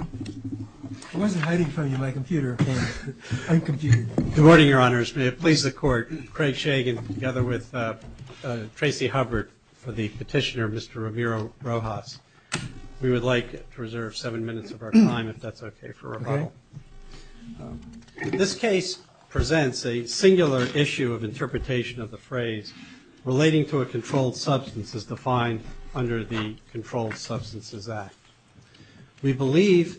I wasn't hiding from you my computer. Good morning, Your Honors. May it please the Court, Craig Shagan together with Tracy Hubbard for the petitioner Mr. Ramiro Rojas. We would like to reserve seven minutes of our time if that's okay for rebuttal. This case presents a singular issue of interpretation of the phrase relating to a controlled substance as defined under the Controlled Substances Act. We believe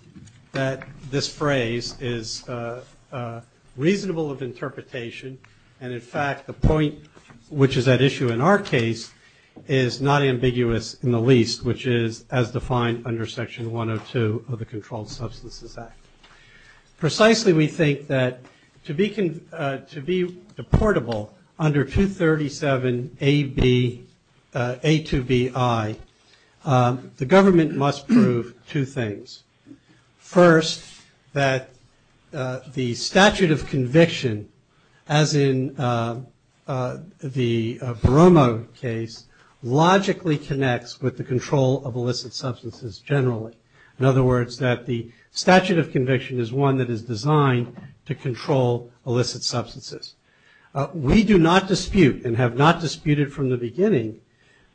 that this phrase is reasonable of interpretation, and in fact the point which is at issue in our case is not ambiguous in the least, which is as defined under Section 102 of the Controlled Substances Act. Precisely, we think that to be deportable under 237A2BI, the government must prove two things. First, that the statute of conviction, as in the Boromo case, logically connects with the control of illicit substances generally. In other words, that the statute of conviction is one that is designed to control illicit substances. We do not dispute and have not disputed from the beginning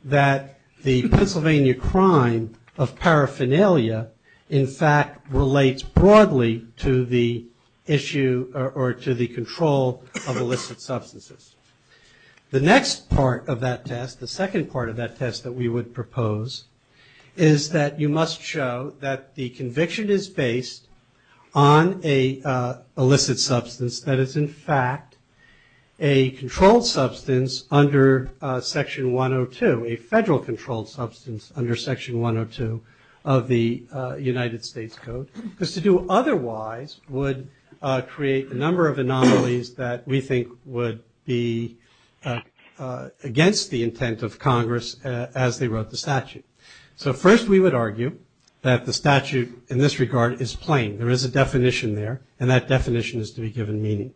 that the Pennsylvania crime of paraphernalia in fact relates broadly to the issue or to the control of illicit substances. The next part of that test, the second part of that test that we would propose, is that you must show that the conviction is based on a illicit substance that is in fact a controlled substance under Section 102, a federal controlled substance under Section 102 of the United States Code, because to do otherwise would create a number of anomalies that we think would be against the intent of Congress as they wrote the statute. So first we would argue that the statute in this regard is plain. There is a definition there and that definition is to be given meaning.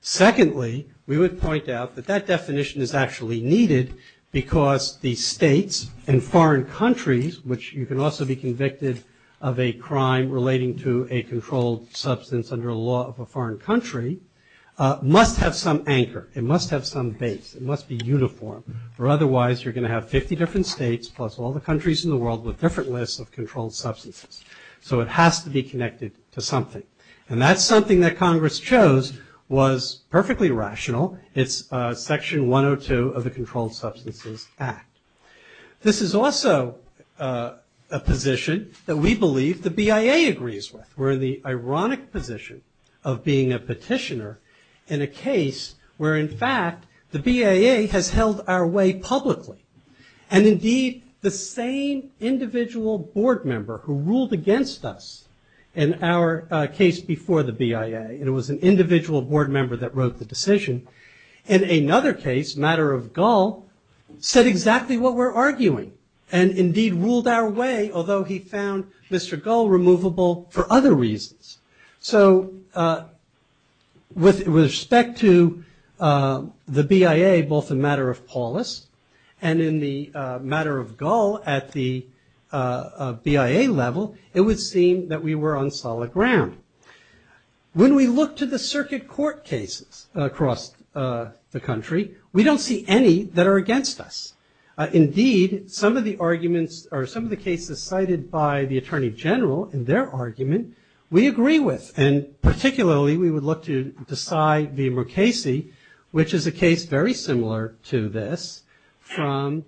Secondly, we would point out that that definition is actually needed because the states and foreign countries, which you can also be convicted of a crime relating to a controlled substance under a law of a foreign country, must have some anchor. It must have some base. It must be uniform. Or otherwise you're going to have 50 different states plus all the countries in the world with different lists of controlled substances. So it has to be connected to something. And that's something that Congress chose was perfectly rational. It's Section 102 of the Controlled Substances Act. This is also a position that we believe the BIA agrees with. We're in the ironic position of being a petitioner in a case where in fact the BIA has held our way publicly. And indeed the same individual board member who ruled against us in our case before the BIA, and it was an individual board member that wrote the decision, in another case, Matter of Gull, said exactly what we're arguing and indeed ruled our way, although he found Mr. Gull removable for other reasons. So with respect to the BIA, both in Matter of Paulus and in the Matter of Gull at the BIA level, it would seem that we were on solid ground. When we look to the circuit court cases across the country, we don't see any that are against us. Indeed, some of the arguments, or some of the cases cited by the Attorney General in their argument, we agree with. And particularly we would look to Desai v. Mukasey, which is a case very similar to this, from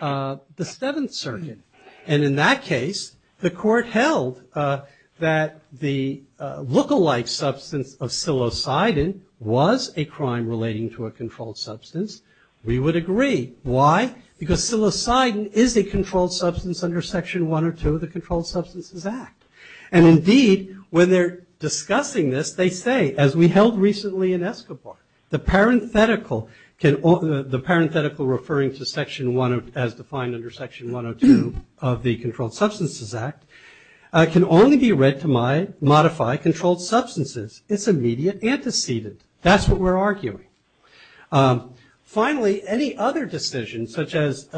the Seventh Circuit. And in that case, the court held that the lookalike substance of psilocybin was a crime relating to a controlled substance. We would agree. Why? Because psilocybin is a controlled substance under Section 102 of the Controlled Substances Act. And indeed, when they're discussing this, they say, as we held recently in Escobar, the parenthetical referring to Section 1 as defined under Section 102 of the Controlled Substances Act can only be read to modify controlled substances. It's immediate antecedent. That's what we're arguing. Finally, any other decision, such as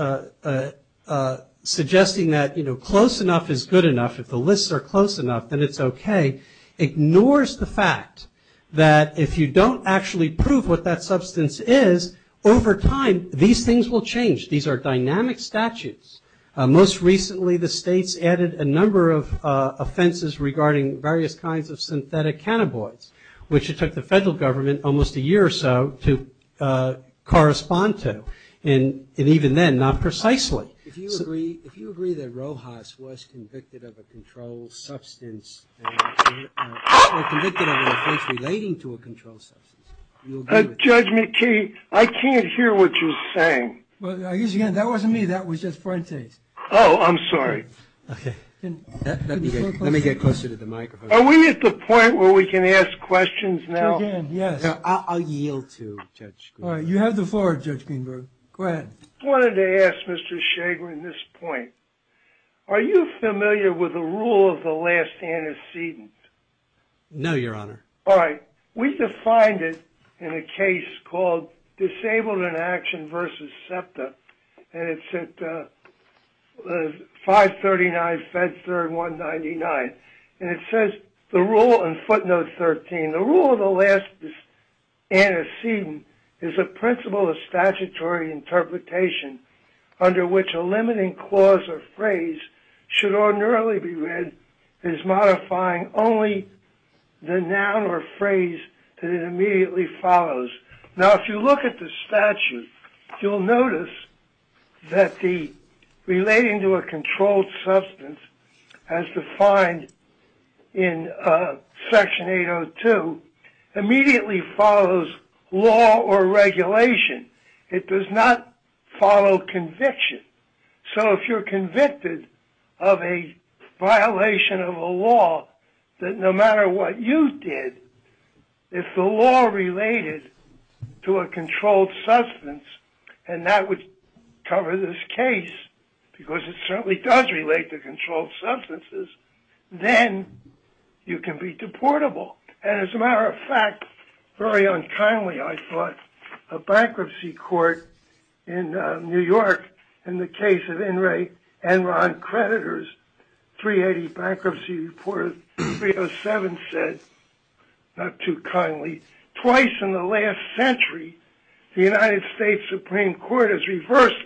suggesting that close enough is good enough, if the lists are close enough, then it's okay, ignores the fact that if you don't actually prove what that substance is, over time these things will change. These are dynamic statutes. Most recently the states added a number of offenses regarding various kinds of synthetic cannabinoids, which it took the federal government almost a year or so to correspond to. And even then, not precisely. If you agree that Rojas was convicted of a controlled substance, or convicted of an offense relating to a controlled substance, you'll agree with me. Judge McKee, I can't hear what you're saying. Well, I guess, again, that wasn't me. That was just Fuentes. Oh, I'm sorry. Okay. Let me get closer to the microphone. Are we at the point where we can ask questions now? Yes. I'll yield to Judge Greenberg. You have the floor, Judge Greenberg. Go ahead. I wanted to ask Mr. Shagrin this point. Are you familiar with the rule of the last antecedent? No, Your Honor. All right. We defined it in a case called Disabled in Action v. SEPTA, and it's at 539 Fedster and 199. And it says the rule in footnote 13, the rule of the last antecedent is a principle of statutory interpretation under which a limiting clause or phrase should ordinarily be read as modifying only the noun or phrase that it immediately follows. Now, if you look at the statute, you'll notice that the relating to a controlled substance as defined in Section 802 immediately follows law or regulation. It does not follow conviction. So if you're convicted of a violation of a law that no matter what you did, if the law related to a controlled substance and that would cover this case, because it certainly does relate to controlled substances, then you can be deportable. And as a matter of fact, very unkindly, I thought, a bankruptcy court in New York in the case of In re Enron creditors, 380 Bankruptcy Report 307 said, not too kindly, twice in the last century the United States Supreme Court has reversed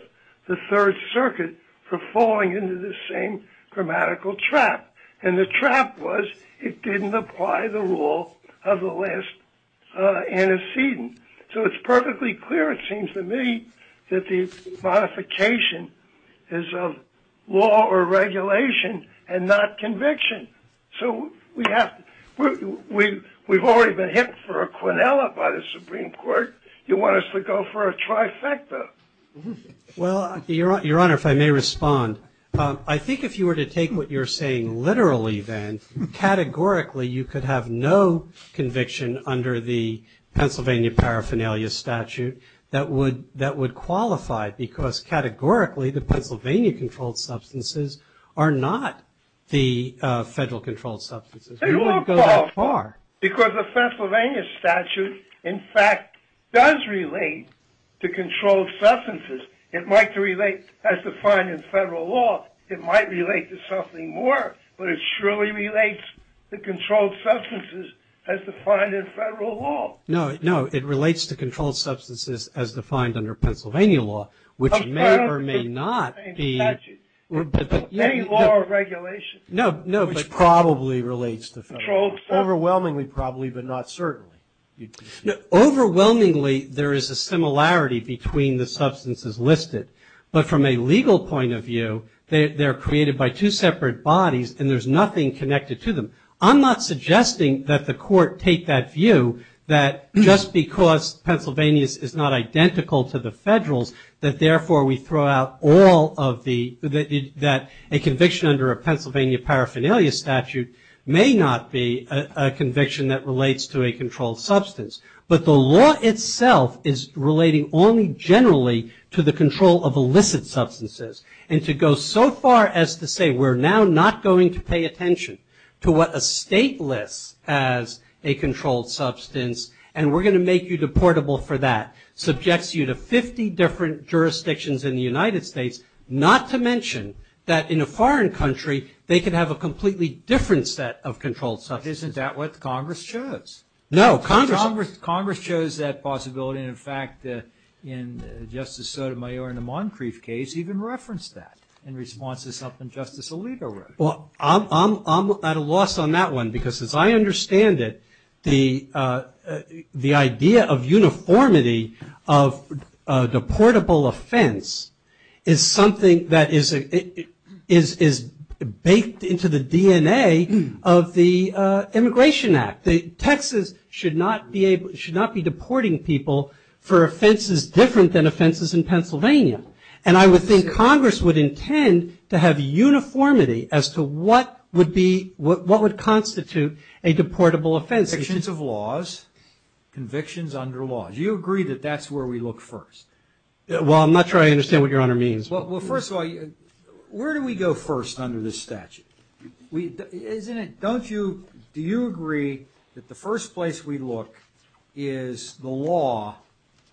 the Third Circuit for falling into the same grammatical trap. And the trap was it didn't apply the rule of the last antecedent. So it's perfectly clear, it seems to me, that the modification is of law or regulation and not conviction. So we've already been hit for a quinella by the Supreme Court. You want us to go for a trifecta? Well, Your Honor, if I may respond, I think if you were to take what you're saying literally then, categorically you could have no conviction under the Pennsylvania Paraphernalia Statute that would qualify because categorically the Pennsylvania controlled substances are not the federal controlled substances. We wouldn't go that far. Because the Pennsylvania statute, in fact, does relate to controlled substances. It might relate as defined in federal law. It might relate to something more, but it surely relates to controlled substances as defined in federal law. No, no. It relates to controlled substances as defined under Pennsylvania law, which may or may not be. Any law or regulation. No, no. Which probably relates to federal law. Overwhelmingly probably, but not certainly. Overwhelmingly there is a similarity between the substances listed. But from a legal point of view, they're created by two separate bodies and there's nothing connected to them. I'm not suggesting that the court take that view, that just because Pennsylvania is not identical to the federals, that therefore we throw out all of the, that a conviction under a Pennsylvania paraphernalia statute may not be a conviction that relates to a controlled substance. But the law itself is relating only generally to the control of illicit substances. And to go so far as to say, we're now not going to pay attention to what a state lists as a controlled substance, and we're going to make you deportable for that, subjects you to 50 different jurisdictions in the United States, not to mention that in a foreign country, they could have a completely different set of controlled substances. Isn't that what Congress chose? No. Congress chose that possibility. And in fact, Justice Sotomayor in the Moncrief case even referenced that in response to something Justice Alito wrote. Well, I'm at a loss on that one because as I understand it, the idea of uniformity of deportable offense is something that is baked into the DNA of the Immigration Act. Texas should not be deporting people for offenses different than offenses in Pennsylvania. And I would think Congress would intend to have uniformity as to what would constitute a deportable offense. Convictions of laws, convictions under laws. Do you agree that that's where we look first? Well, I'm not sure I understand what Your Honor means. Well, first of all, where do we go first under this statute? Isn't it, don't you, do you agree that the first place we look is the law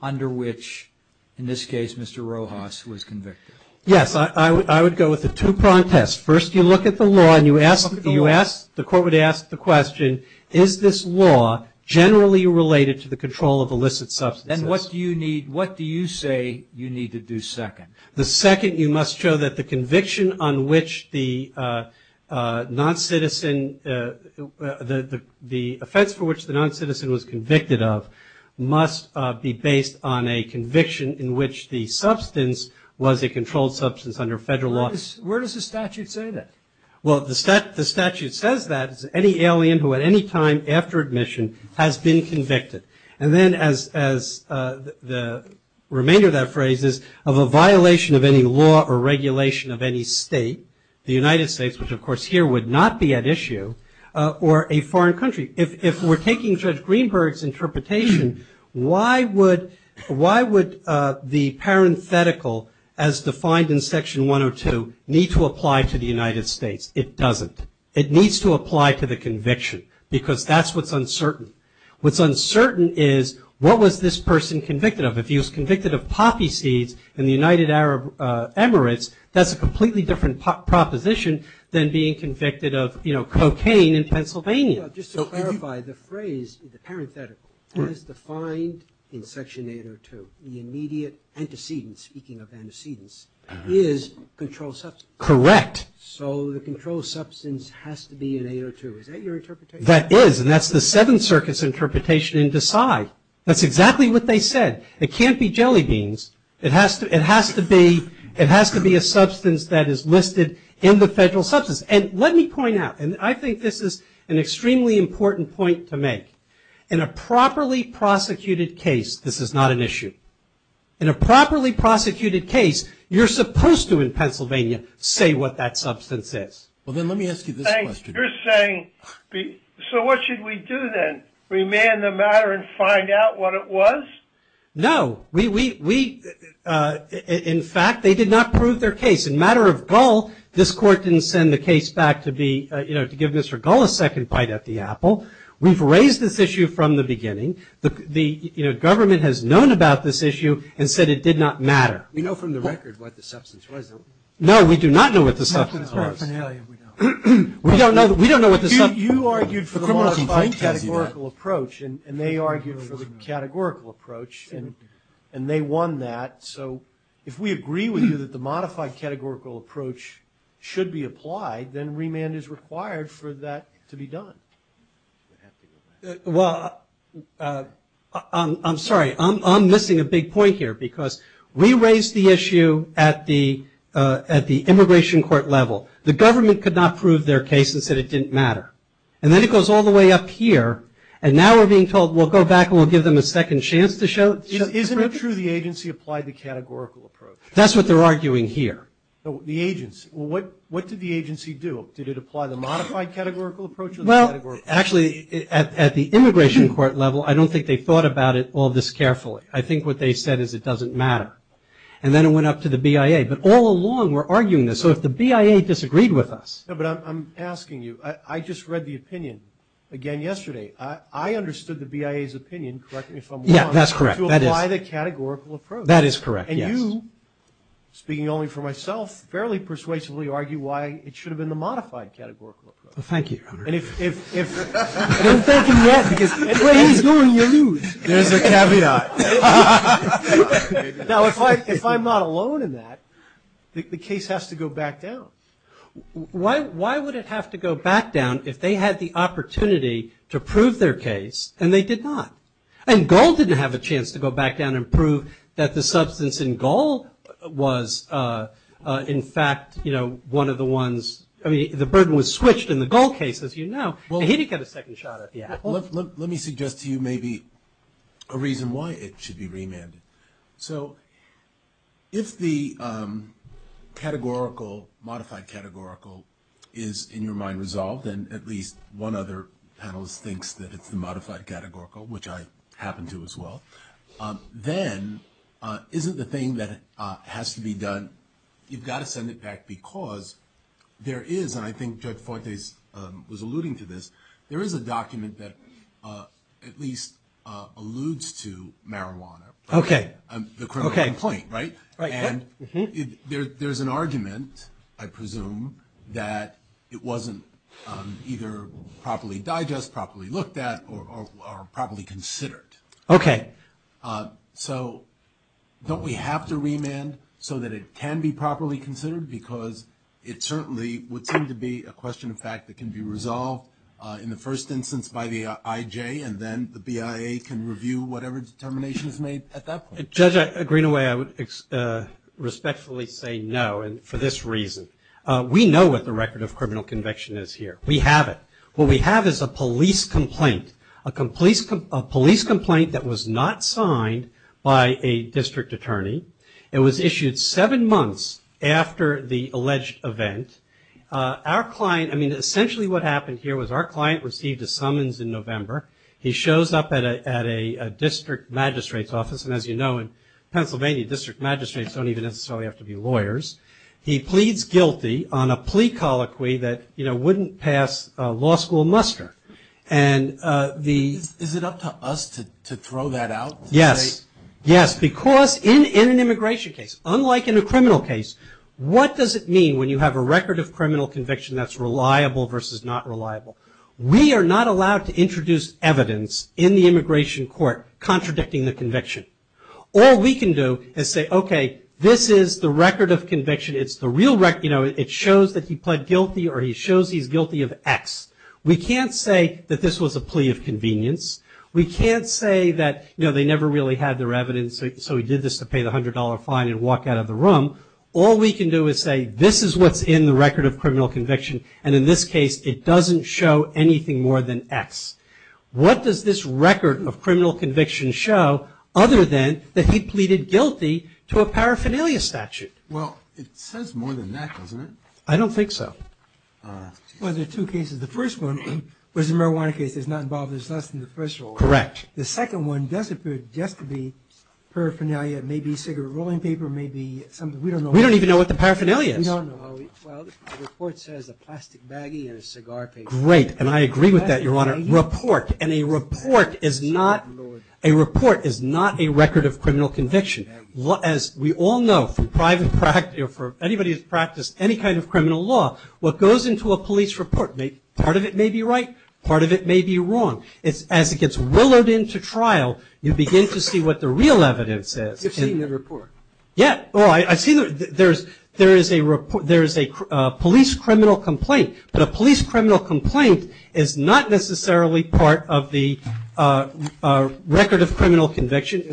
under which, in this case, Mr. Rojas was convicted? Yes, I would go with the two protests. First, you look at the law and you ask, the court would ask the question, is this law generally related to the control of illicit substances? Then what do you need, what do you say you need to do second? The second, you must show that the conviction on which the non-citizen, the offense for which the non-citizen was convicted of must be based on a conviction in which the substance was a controlled substance under federal law. Where does the statute say that? Well, the statute says that any alien who at any time after admission has been convicted. And then as the remainder of that phrase is, of a violation of any law or regulation of any state, the United States, which of course here would not be at issue, or a foreign country. If we're taking Judge Greenberg's interpretation, why would the parenthetical as defined in Section 102 need to apply to the United States? It doesn't. It needs to apply to the conviction because that's what's uncertain. What's uncertain is what was this person convicted of? If he was convicted of poppy seeds in the United Arab Emirates, that's a completely different proposition than being convicted of cocaine in Pennsylvania. Just to clarify, the phrase, the parenthetical, as defined in Section 802, the immediate antecedent, speaking of antecedents, is controlled substance. Correct. So the controlled substance has to be in 802. Is that your interpretation? That is. And that's the Seventh Circuit's interpretation in Desai. That's exactly what they said. It can't be jelly beans. It has to be a substance that is listed in the federal substance. And let me point out, and I think this is an extremely important point to make. In a properly prosecuted case, this is not an issue. In a properly prosecuted case, you're supposed to in Pennsylvania say what that substance is. Well, then let me ask you this question. You're saying, so what should we do then? Remand the matter and find out what it was? No. We, in fact, they did not prove their case. In matter of gull, this Court didn't send the case back to be, you know, to give Mr. Gull a second bite at the apple. We've raised this issue from the beginning. The government has known about this issue and said it did not matter. We know from the record what the substance was. No, we do not know what the substance was. We don't know what the substance was. You argued for the modified categorical approach, and they argued for the categorical approach, and they won that. So if we agree with you that the modified categorical approach should be applied, then remand is required for that to be done. Well, I'm sorry, I'm missing a big point here, because we raised the issue at the immigration court level. The government could not prove their case and said it didn't matter. And then it goes all the way up here, and now we're being told we'll go back and we'll give them a second chance to show it. Isn't it true the agency applied the categorical approach? That's what they're arguing here. The agency. Well, what did the agency do? Did it apply the modified categorical approach or the categorical approach? Well, actually, at the immigration court level, I don't think they thought about it all this carefully. I think what they said is it doesn't matter. And then it went up to the BIA. But all along we're arguing this. So if the BIA disagreed with us. No, but I'm asking you. I just read the opinion again yesterday. I understood the BIA's opinion, correct me if I'm wrong. Yeah, that's correct. To apply the categorical approach. That is correct, yes. And you, speaking only for myself, fairly persuasively argue why it should have been the modified categorical approach. Well, thank you, Your Honor. Don't thank him yet, because the way he's doing, you lose. There's a caveat. Now, if I'm not alone in that, the case has to go back down. Why would it have to go back down if they had the opportunity to prove their case, and they did not? And Gold didn't have a chance to go back down and prove that the substance in Gold was, in fact, you know, one of the ones. I mean, the burden was switched in the Gold case, as you know. And he didn't get a second shot at it. Let me suggest to you maybe a reason why it should be remanded. So if the categorical, modified categorical, is in your mind resolved, and at least one other panelist thinks that it's the modified categorical, which I happen to as well, then isn't the thing that has to be done, you've got to send it back because there is, and I think Judge Fuentes was alluding to this, there is a document that at least alludes to marijuana. Okay. The criminal complaint, right? Right. And there's an argument, I presume, that it wasn't either properly digested, properly looked at, or properly considered. Okay. So don't we have to remand so that it can be properly considered? Because it certainly would seem to be a question of fact that can be resolved in the first instance by the IJ, and then the BIA can review whatever determination is made at that point. Judge Greenaway, I would respectfully say no for this reason. We know what the record of criminal conviction is here. We have it. What we have is a police complaint, a police complaint that was not signed by a district attorney. It was issued seven months after the alleged event. Our client, I mean, essentially what happened here was our client received a summons in November. He shows up at a district magistrate's office, and as you know in Pennsylvania district magistrates don't even necessarily have to be lawyers. He pleads guilty on a plea colloquy that, you know, wouldn't pass law school muster. Is it up to us to throw that out? Yes. Yes, because in an immigration case, unlike in a criminal case, what does it mean when you have a record of criminal conviction that's reliable versus not reliable? We are not allowed to introduce evidence in the immigration court contradicting the conviction. All we can do is say, okay, this is the record of conviction. It's the real record. You know, it shows that he pled guilty or he shows he's guilty of X. We can't say that this was a plea of convenience. We can't say that, you know, they never really had their evidence, so he did this to pay the $100 fine and walk out of the room. All we can do is say this is what's in the record of criminal conviction, and in this case it doesn't show anything more than X. What does this record of criminal conviction show other than that he pleaded guilty to a paraphernalia statute? Well, it says more than that, doesn't it? I don't think so. Well, there are two cases. The first one was a marijuana case. It's not involved. There's less than the first one. Correct. The second one does appear just to be paraphernalia, maybe cigarette rolling paper, maybe something. We don't know. We don't even know what the paraphernalia is. We don't know. Well, the report says a plastic baggie and a cigar paper. Great. And I agree with that, Your Honor. Report. And a report is not a record of criminal conviction. As we all know from private practice or from anybody who's practiced any kind of criminal law, what goes into a police report, part of it may be right, part of it may be wrong. As it gets willowed into trial, you begin to see what the real evidence is. You've seen the report. Yeah. Well, I've seen it. There is a police criminal complaint, but a police criminal complaint is not necessarily part of the record of criminal conviction.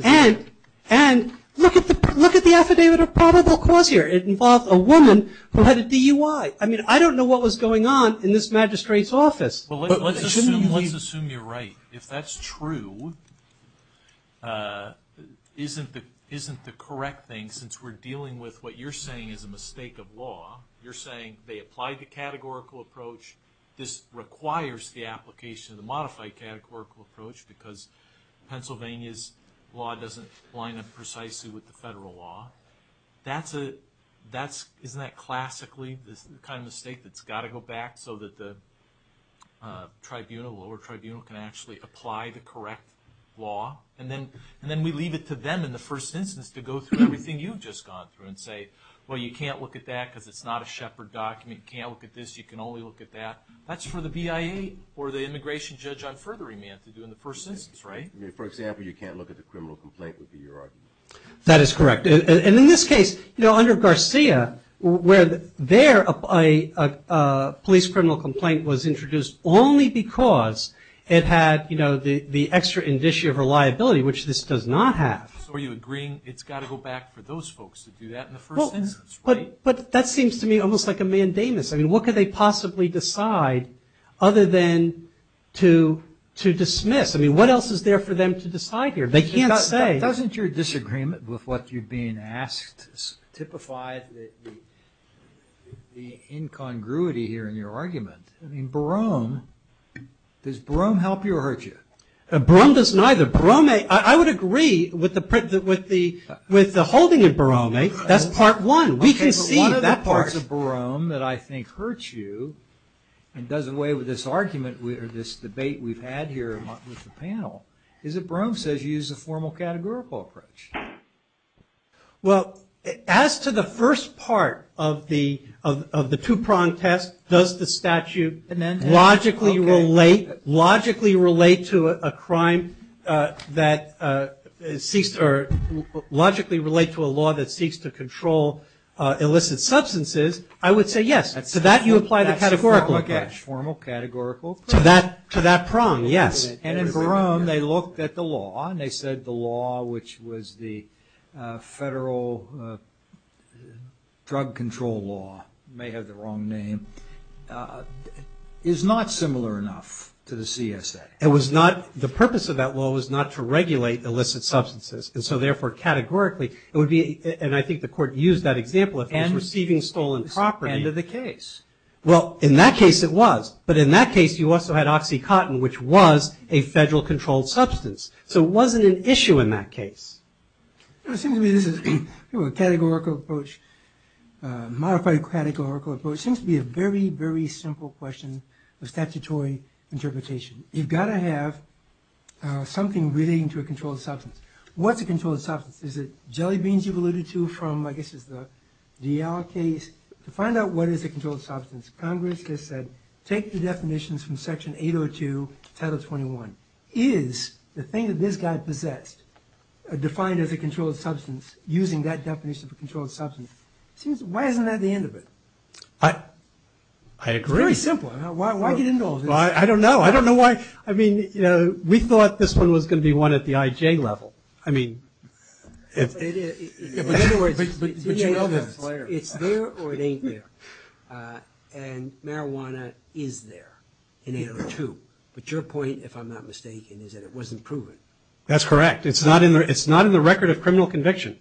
And look at the affidavit of probable cause here. It involved a woman who had a DUI. I mean, I don't know what was going on in this magistrate's office. Well, let's assume you're right. If that's true, isn't the correct thing, since we're dealing with what you're saying is a mistake of law, you're saying they applied the categorical approach, this requires the application of the modified categorical approach because Pennsylvania's law doesn't line up precisely with the federal law. Isn't that classically the kind of mistake that's got to go back so that the lower tribunal can actually apply the correct law? And then we leave it to them in the first instance to go through everything you've just gone through and say, well, you can't look at that because it's not a Shepard document. You can't look at this. You can only look at that. That's for the BIA or the immigration judge on further remand to do in the first instance, right? For example, you can't look at the criminal complaint would be your argument. That is correct. And in this case, you know, under Garcia, where their police criminal complaint was introduced only because it had, you know, the extra indicia of reliability, which this does not have. So are you agreeing it's got to go back for those folks to do that in the first instance, right? But that seems to me almost like a mandamus. I mean, what could they possibly decide other than to dismiss? I mean, what else is there for them to decide here? They can't say. Doesn't your disagreement with what you've been asked typify the incongruity here in your argument? I mean, Barome, does Barome help you or hurt you? Barome does neither. Barome, I would agree with the holding of Barome. That's part one. We can see that part. One of the parts of Barome that I think hurts you and does away with this argument or this debate we've had here with the panel is that Barome says you should use a formal categorical approach. Well, as to the first part of the two-prong test, does the statute logically relate to a crime that seeks to or logically relate to a law that seeks to control illicit substances, I would say yes. To that you apply the categorical approach. Formal categorical approach. To that prong, yes. And in Barome they looked at the law and they said the law, which was the federal drug control law, may have the wrong name, is not similar enough to the CSA. It was not. The purpose of that law was not to regulate illicit substances, and so therefore categorically it would be, and I think the Court used that example, if I was receiving stolen property. End of the case. Well, in that case it was, but in that case you also had OxyContin, which was a federal controlled substance. So it wasn't an issue in that case. It seems to me this is a categorical approach, modified categorical approach. It seems to be a very, very simple question of statutory interpretation. You've got to have something relating to a controlled substance. What's a controlled substance? Is it jelly beans you've alluded to from, I guess, the DL case? To find out what is a controlled substance, Congress has said take the definitions from Section 802, Title 21. Is the thing that this guy possessed defined as a controlled substance, using that definition of a controlled substance? Why isn't that the end of it? I agree. It's very simple. Why get into all this? I don't know. I don't know why. I mean, you know, we thought this one was going to be one at the IJ level. I mean, in other words, it's there or it ain't there. And marijuana is there in 802. But your point, if I'm not mistaken, is that it wasn't proven. That's correct. It's not in the record of criminal conviction.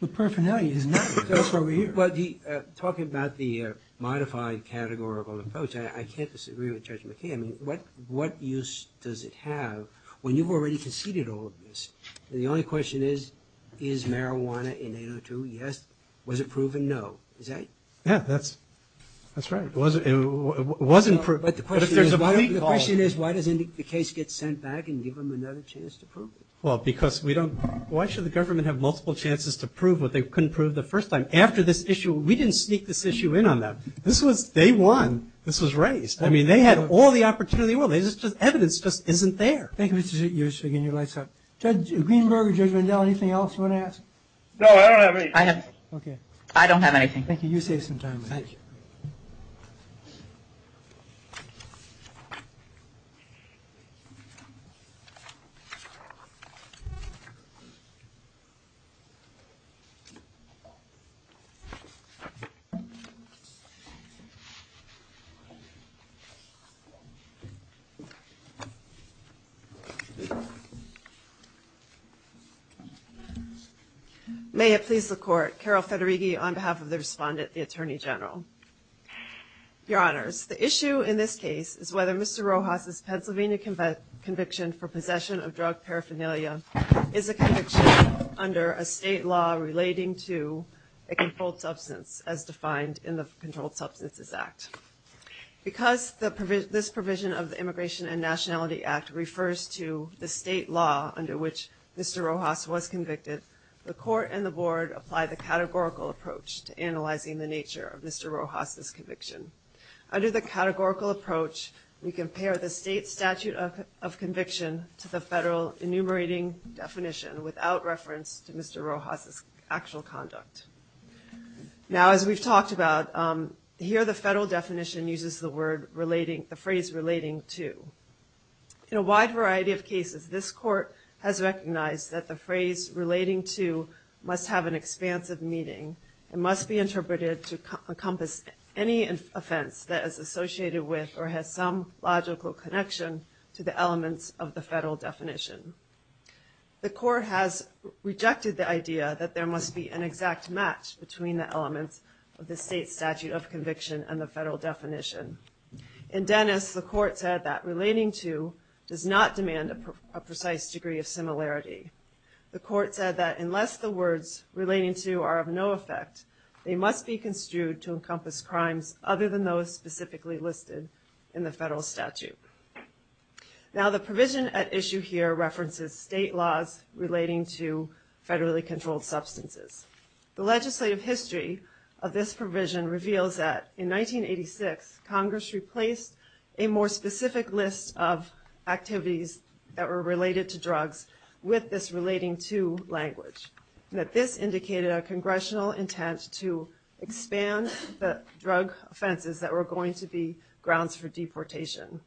The paraphernalia is not there. Talking about the modified categorical approach, I can't disagree with Judge McKay. I mean, what use does it have when you've already conceded all of this? The only question is, is marijuana in 802? Yes. Was it proven? No. Is that it? Yeah, that's right. It was approved. But the question is, why doesn't the case get sent back and give them another chance to prove it? Well, because we don't – why should the government have multiple chances to prove what they couldn't prove the first time? After this issue, we didn't sneak this issue in on them. This was day one. This was raised. I mean, they had all the opportunity in the world. Evidence just isn't there. Thank you, Mr. Shiggin. Your light's out. Judge Greenberg or Judge Vandell, anything else you want to ask? No, I don't have anything. I don't have anything. Thank you. You save some time. Thank you. May it please the Court. Carol Federighi on behalf of the respondent, the Attorney General. Your Honors, the issue in this case is whether Mr. Rojas' Pennsylvania conviction for possession of drug paraphernalia is a conviction under a state law relating to a controlled substance, as defined in the Controlled Substances Act. Because this provision of the Immigration and Nationality Act refers to the state law under which Mr. Rojas was convicted, the Court and the Board applied the categorical approach to analyzing the nature of Mr. Rojas' conviction. Under the categorical approach, we compare the state statute of conviction to the federal enumerating definition without reference to Mr. Rojas' actual conduct. Now, as we've talked about, here the federal definition uses the phrase relating to. In a wide variety of cases, this Court has recognized that the phrase relating to must have an expansive meaning and must be interpreted to encompass any offense that is associated with or has some logical connection to the elements of the federal definition. The Court has rejected the idea that there must be an exact match between the elements of the state statute of conviction and the federal definition. In Dennis, the Court said that relating to does not demand a precise degree of similarity. The Court said that unless the words relating to are of no effect, they must be construed to encompass crimes other than those specifically listed in the federal statute. Now, the provision at issue here references state laws relating to federally controlled substances. The legislative history of this provision reveals that in 1986, Congress replaced a more specific list of activities that were related to drugs with this relating to language, and that this indicated a congressional intent to expand the drug offenses that were going to be grounds for deportation.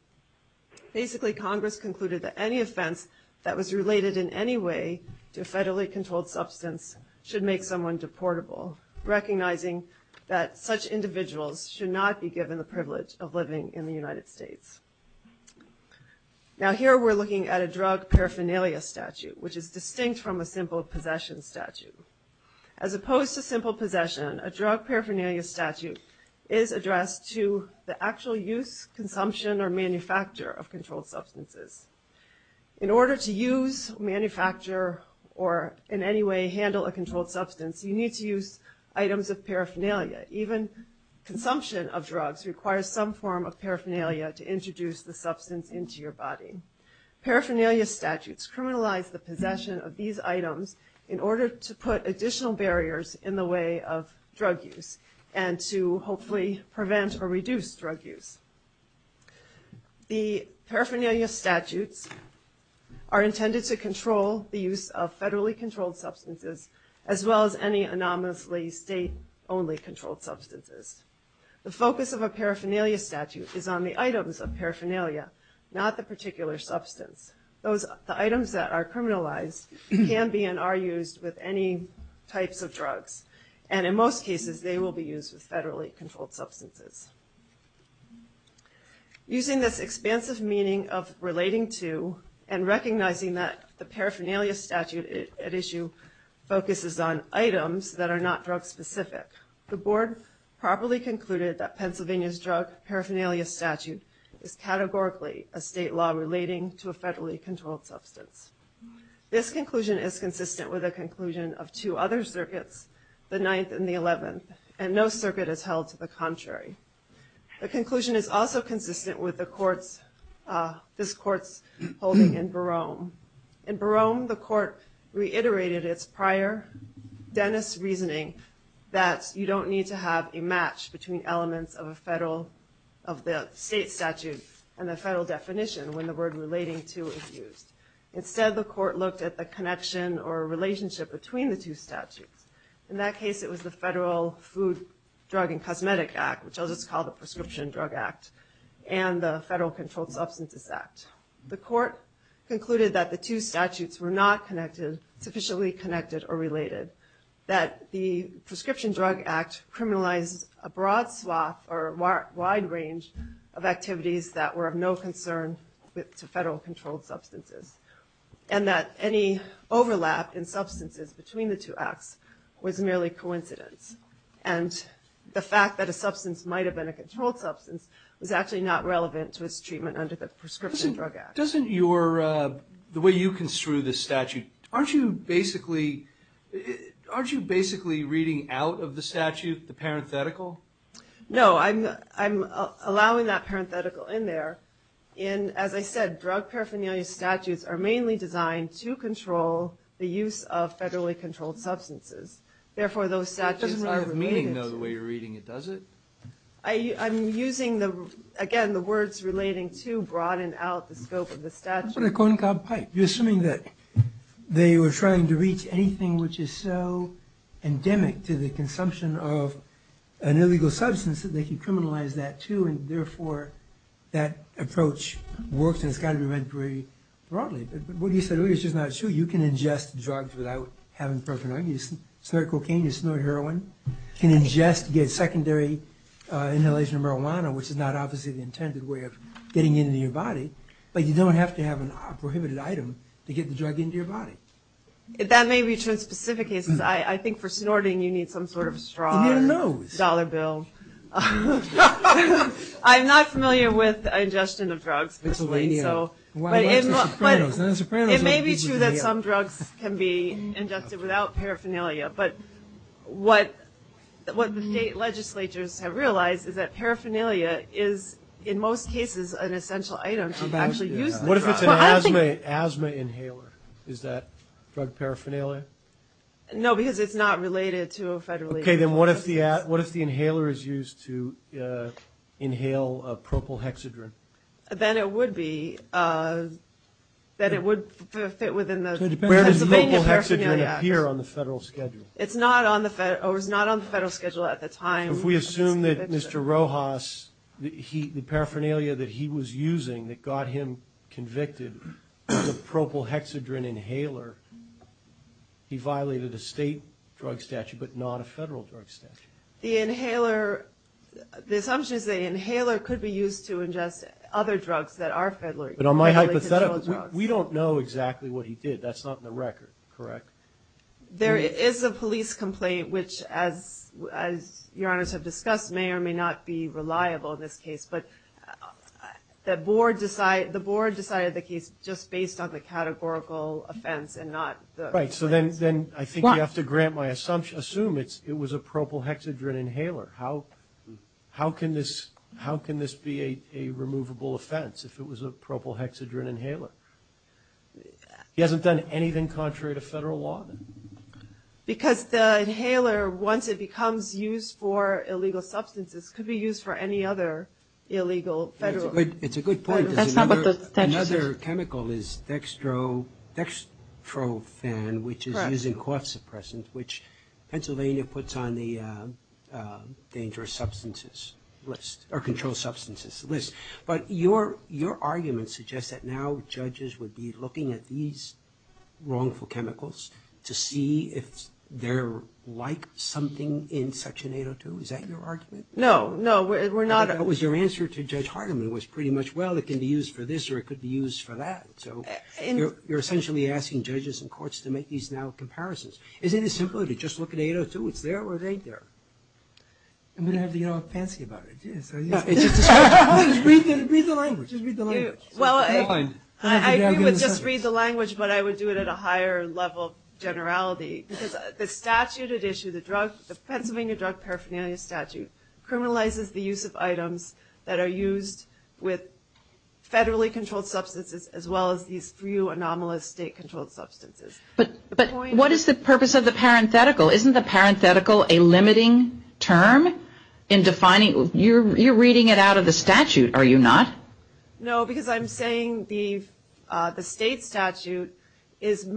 Basically, Congress concluded that any offense that was related in any way to federally controlled substance should make someone deportable, recognizing that such individuals should not be given the privilege of living in the United States. Now, here we're looking at a drug paraphernalia statute, which is distinct from a simple possession statute. As opposed to simple possession, a drug paraphernalia statute is addressed to the actual use, consumption, or manufacture of controlled substances. In order to use, manufacture, or in any way handle a controlled substance, you need to use items of paraphernalia. Even consumption of drugs requires some form of paraphernalia to introduce the substance into your body. Paraphernalia statutes criminalize the possession of these items in order to put additional barriers in the way of drug use and to hopefully prevent or reduce drug use. The paraphernalia statutes are intended to control the use of federally controlled substances as well as any anonymously state-only controlled substances. The focus of a paraphernalia statute is on the items of paraphernalia, not the particular substance. The items that are criminalized can be and are used with any types of drugs, and in most cases they will be used with federally controlled substances. Using this expansive meaning of relating to and recognizing that the paraphernalia statute at issue focuses on items that are not drug specific, the board properly concluded that Pennsylvania's drug paraphernalia statute is categorically a state law relating to a federally controlled substance. This conclusion is consistent with the conclusion of two other circuits, the 9th and the 11th, and no circuit is held to the contrary. The conclusion is also consistent with this court's holding in Barome. In Barome, the court reiterated its prior Dennis reasoning that you don't need to have a match between elements of the state statute and the federal definition when the word relating to is used. Instead, the court looked at the connection or relationship between the two statutes. In that case, it was the Federal Food, Drug, and Cosmetic Act, which I'll just call the Prescription Drug Act, and the Federal Controlled Substances Act. The court concluded that the two statutes were not sufficiently connected or generalized a broad swath or wide range of activities that were of no concern to federal controlled substances, and that any overlap in substances between the two acts was merely coincidence. And the fact that a substance might have been a controlled substance was actually not relevant to its treatment under the Prescription Drug Act. Doesn't your, the way you construe this statute, aren't you basically, aren't you basically reading out of the statute the parenthetical? No, I'm allowing that parenthetical in there. And as I said, drug paraphernalia statutes are mainly designed to control the use of federally controlled substances. Therefore, those statutes are related to. It doesn't really have meaning, though, the way you're reading it, does it? I'm using, again, the words relating to broaden out the scope of the statute. That's what I call a cob pipe. You're assuming that they were trying to reach anything which is so endemic to the consumption of an illegal substance that they can criminalize that, too, and therefore, that approach works and it's got to be read very broadly. But what you said earlier is just not true. You can ingest drugs without having paraphernalia. You snort cocaine, you snort heroin. You can ingest, get secondary inhalation of marijuana, which is not obviously the intended way of getting into your body. But you don't have to have a prohibited item to get the drug into your body. That may be true in specific cases. I think for snorting, you need some sort of straw. You need a nose. Dollar bill. I'm not familiar with ingestion of drugs, personally. It may be true that some drugs can be ingested without paraphernalia. But what the state legislatures have realized is that paraphernalia is, in most cases, an essential item to actually use the drug. What if it's an asthma inhaler? Is that drug paraphernalia? No, because it's not related to a federally- Okay, then what if the inhaler is used to inhale propyl hexadrine? Then it would be that it would fit within the Pennsylvania Paraphernalia Act. Where does propyl hexadrine appear on the federal schedule? It's not on the federal schedule at the time. If we assume that Mr. Rojas, the paraphernalia that he was using that got him convicted as a propyl hexadrine inhaler, he violated a state drug statute but not a federal drug statute. The inhaler, the assumption is the inhaler could be used to ingest other drugs that are federally- But on my hypothesis, we don't know exactly what he did. That's not in the record, correct? There is a police complaint which, as Your Honors have discussed, may or may not be reliable in this case. But the board decided the case just based on the categorical offense and not the- Right, so then I think you have to grant my assumption, assume it was a propyl hexadrine inhaler. How can this be a removable offense if it was a propyl hexadrine inhaler? He hasn't done anything contrary to federal law? Because the inhaler, once it becomes used for illegal substances, could be used for any other illegal federal- It's a good point. Another chemical is dextrofen, which is used in cough suppressants, which Pennsylvania puts on the dangerous substances list, or controlled substances list. But your argument suggests that now judges would be looking at these wrongful chemicals to see if they're like something in Section 802. Is that your argument? No, no, we're not- Because your answer to Judge Hardiman was pretty much, well, it can be used for this or it could be used for that. So you're essentially asking judges and courts to make these now comparisons. Isn't it simpler to just look at 802, it's there or it ain't there? I'm going to have to get all fancy about it. Just read the language. Well, I agree with just read the language, but I would do it at a higher level of generality. Because the statute at issue, the Pennsylvania Drug Paraphernalia Statute, criminalizes the use of items that are used with federally controlled substances as well as these few anomalous state controlled substances. But what is the purpose of the parenthetical? Isn't the parenthetical a limiting term in defining? You're reading it out of the statute, are you not? No, because I'm saying the state statute is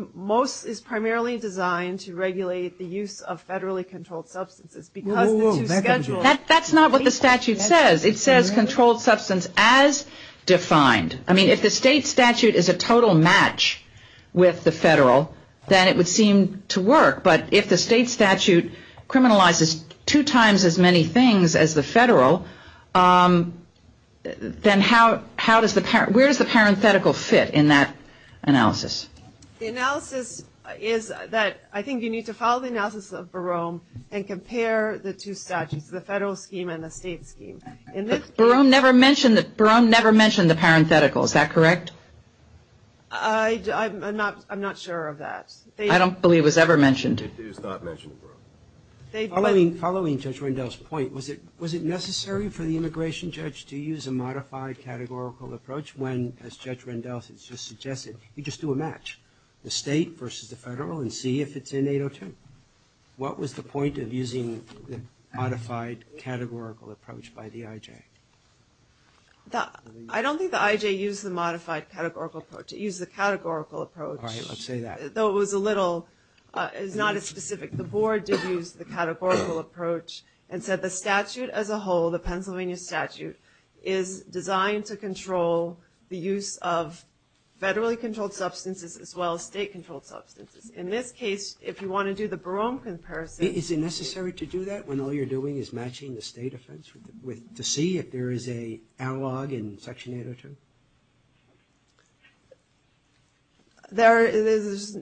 primarily designed to regulate the use of federally controlled substances. That's not what the statute says. It says controlled substance as defined. I mean, if the state statute is a total match with the federal, then it would seem to work. But if the state statute criminalizes two times as many things as the federal, then where does the parenthetical fit in that analysis? The analysis is that I think you need to follow the analysis of Barome and compare the two statutes, the federal scheme and the state scheme. Barome never mentioned the parenthetical. Is that correct? I'm not sure of that. I don't believe it was ever mentioned. It is not mentioned in Barome. Following Judge Rendell's point, was it necessary for the immigration judge to use a modified categorical approach when, as Judge Rendell has just suggested, you just do a match, the state versus the federal, and see if it's in 802? What was the point of using the modified categorical approach by the IJ? I don't think the IJ used the modified categorical approach. It used the categorical approach. All right, let's say that. Though it was a little, it was not as specific. The board did use the categorical approach and said the statute as a whole, the Pennsylvania statute, is designed to control the use of federally controlled substances as well as state controlled substances. In this case, if you want to do the Barome comparison. Is it necessary to do that when all you're doing is matching the state offense to see if there is an analog in Section 802? There is,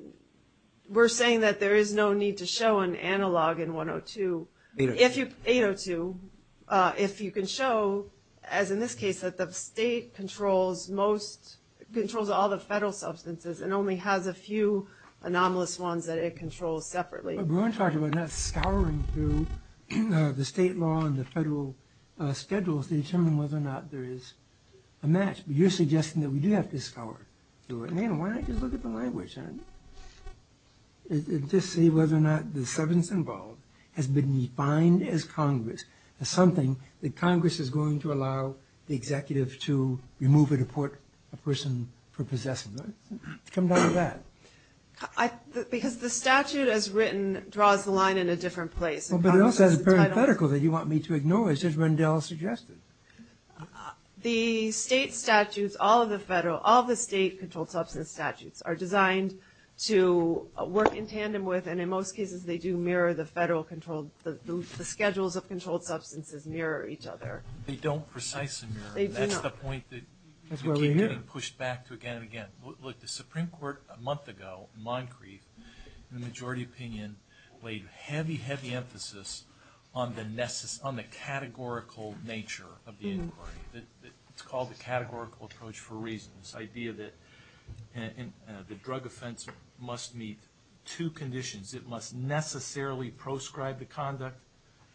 we're saying that there is no need to show an analog in 102. 802. 802. If you can show, as in this case, that the state controls most, controls all the federal substances and only has a few anomalous ones that it controls separately. But we're talking about not scouring through the state law and the federal schedules to determine whether or not there is a match. But you're suggesting that we do have to scour through it. Why not just look at the language? Just see whether or not the substance involved has been defined as Congress, as something that Congress is going to allow the executive to remove or deport a person for possessing. Come down to that. Because the statute as written draws the line in a different place. But it also has a parenthetical that you want me to ignore. It says Rendell suggested. The state statutes, all of the federal, all of the state controlled substance statutes are designed to work in tandem with, and in most cases they do mirror, the federal controlled, the schedules of controlled substances mirror each other. They don't precisely mirror. They do not. That's the point that you keep getting pushed back to again and again. Look, the Supreme Court a month ago, in Moncrief, in the majority opinion laid heavy, heavy emphasis on the categorical nature of the inquiry. It's called the categorical approach for a reason. This idea that the drug offense must meet two conditions. It must necessarily proscribe the conduct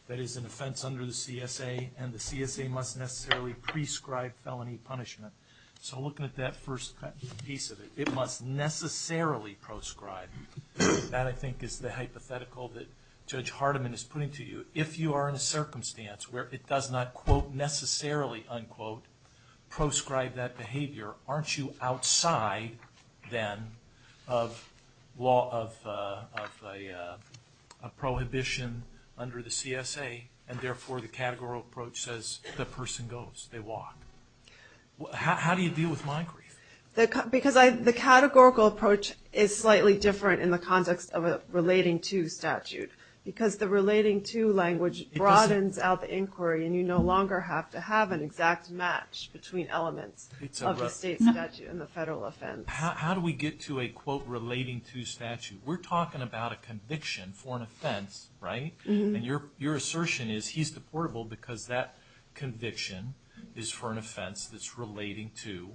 that is an offense under the CSA, and the CSA must necessarily prescribe felony punishment. So looking at that first piece of it, it must necessarily proscribe. That, I think, is the hypothetical that Judge Hardiman is putting to you. If you are in a circumstance where it does not, quote, necessarily, unquote, proscribe that behavior, aren't you outside, then, of a prohibition under the CSA, and therefore the categorical approach says the person goes, they walk? How do you deal with Moncrief? Because the categorical approach is slightly different in the context of a relating to statute because the relating to language broadens out the inquiry, and you no longer have to have an exact match between elements of the state statute and the federal offense. How do we get to a, quote, relating to statute? We're talking about a conviction for an offense, right? And your assertion is he's deportable because that conviction is for an offense that's relating to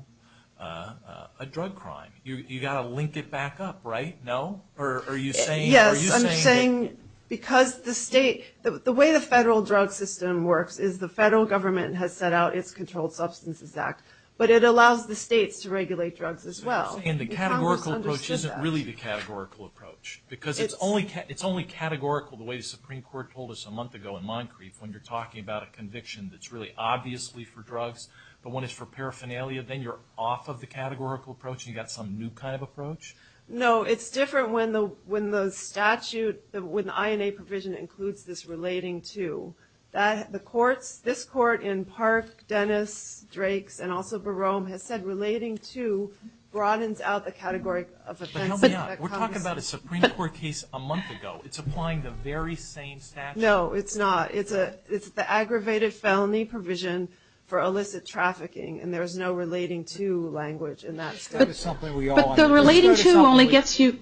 a drug crime. You've got to link it back up, right? No? Yes, I'm saying because the way the federal drug system works is the federal government has set out its Controlled Substances Act, but it allows the states to regulate drugs as well. And the categorical approach isn't really the categorical approach because it's only categorical the way the Supreme Court told us a month ago in Moncrief when you're talking about a conviction that's really obviously for drugs, but when it's for paraphernalia, then you're off of the categorical approach and you've got some new kind of approach? No, it's different when the statute, when the INA provision includes this relating to. The courts, this court in Park, Dennis, Drakes, and also Barome has said relating to broadens out the category of offense. But help me out. We're talking about a Supreme Court case a month ago. It's applying the very same statute. No, it's not. It's the aggravated felony provision for illicit trafficking, and there's no relating to language in that statute. But the relating to only gets you...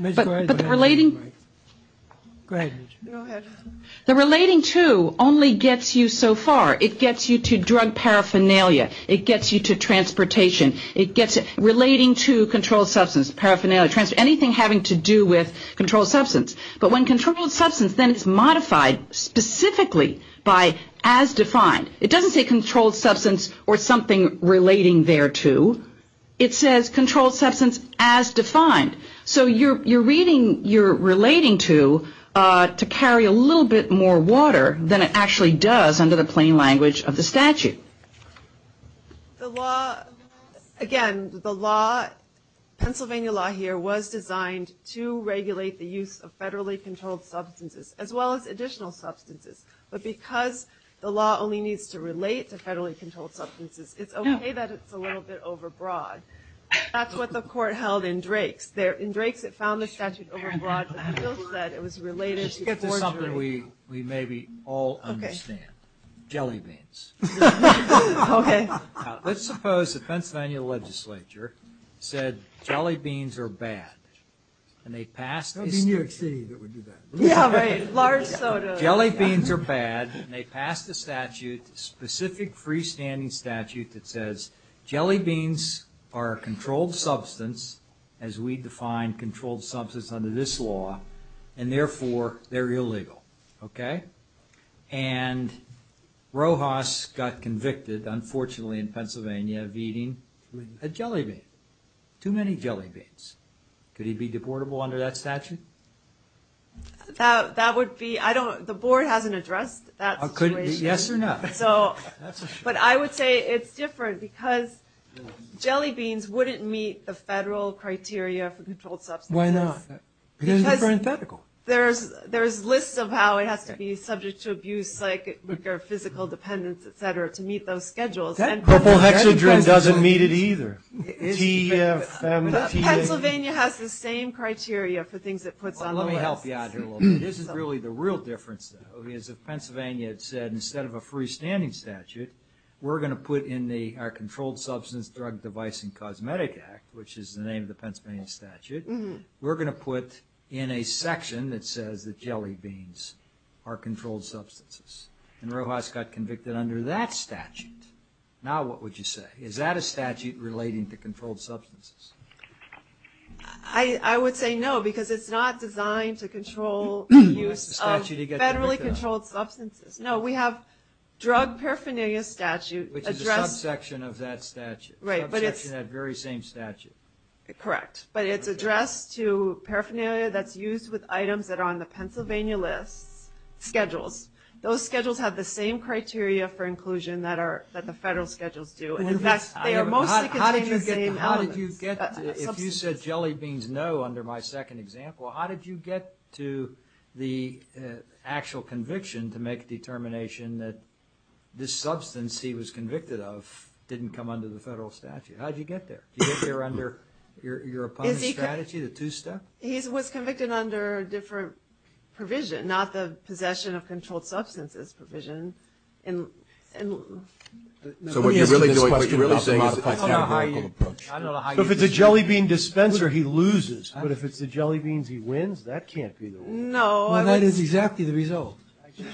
The relating to only gets you so far. It gets you to drug paraphernalia. It gets you to transportation. It gets relating to controlled substance, paraphernalia, anything having to do with controlled substance. But when controlled substance, then it's modified specifically by as defined. It doesn't say controlled substance or something relating there to. It says controlled substance as defined. So you're reading your relating to to carry a little bit more water than it actually does under the plain language of the statute. The law, again, the law, Pennsylvania law here, was designed to regulate the use of federally controlled substances as well as additional substances. But because the law only needs to relate to federally controlled substances, it's okay that it's a little bit overbroad. That's what the court held in Drake's. In Drake's, it found the statute overbroad, but the bill said it was related to forgery. Let's get to something we maybe all understand. Jelly beans. Okay. Let's suppose the Pennsylvania legislature said jelly beans are bad, and they passed this statute. Yeah, right, large sodas. Jelly beans are bad, and they passed a statute, a specific freestanding statute that says jelly beans are a controlled substance, as we define controlled substance under this law, and therefore they're illegal. Okay? And Rojas got convicted, unfortunately, in Pennsylvania of eating a jelly bean, too many jelly beans. Could he be deportable under that statute? That would be – the board hasn't addressed that situation. Yes or no? But I would say it's different, because jelly beans wouldn't meet the federal criteria for controlled substances. Why not? Because there's lists of how it has to be subject to abuse, like physical dependence, et cetera, to meet those schedules. Purple hexadrine doesn't meet it either. Pennsylvania has the same criteria for things it puts on the list. Well, let me help you out here a little bit. This is really the real difference, though, is if Pennsylvania had said instead of a freestanding statute, we're going to put in our Controlled Substance, Drug, Device, and Cosmetic Act, which is the name of the Pennsylvania statute, we're going to put in a section that says that jelly beans are controlled substances. And Rojas got convicted under that statute. Now what would you say? Is that a statute relating to controlled substances? I would say no, because it's not designed to control the use of federally controlled substances. No, we have drug paraphernalia statute addressed – Which is a subsection of that statute. Right, but it's – Subsection of that very same statute. Correct. But it's addressed to paraphernalia that's used with items that are on the Pennsylvania list schedules. Those schedules have the same criteria for inclusion that the federal schedules do. In fact, they are mostly contained in the same elements. How did you get – if you said jelly beans no under my second example, how did you get to the actual conviction to make a determination that this substance he was convicted of didn't come under the federal statute? How did you get there? Did you get there under your opponent's strategy, the two-step? He was convicted under a different provision, not the Possession of Controlled Substances provision. Let me ask you this question about the modified categorical approach. I don't know how you – If it's a jelly bean dispenser, he loses. But if it's the jelly beans he wins, that can't be the one. No. Well, that is exactly the result.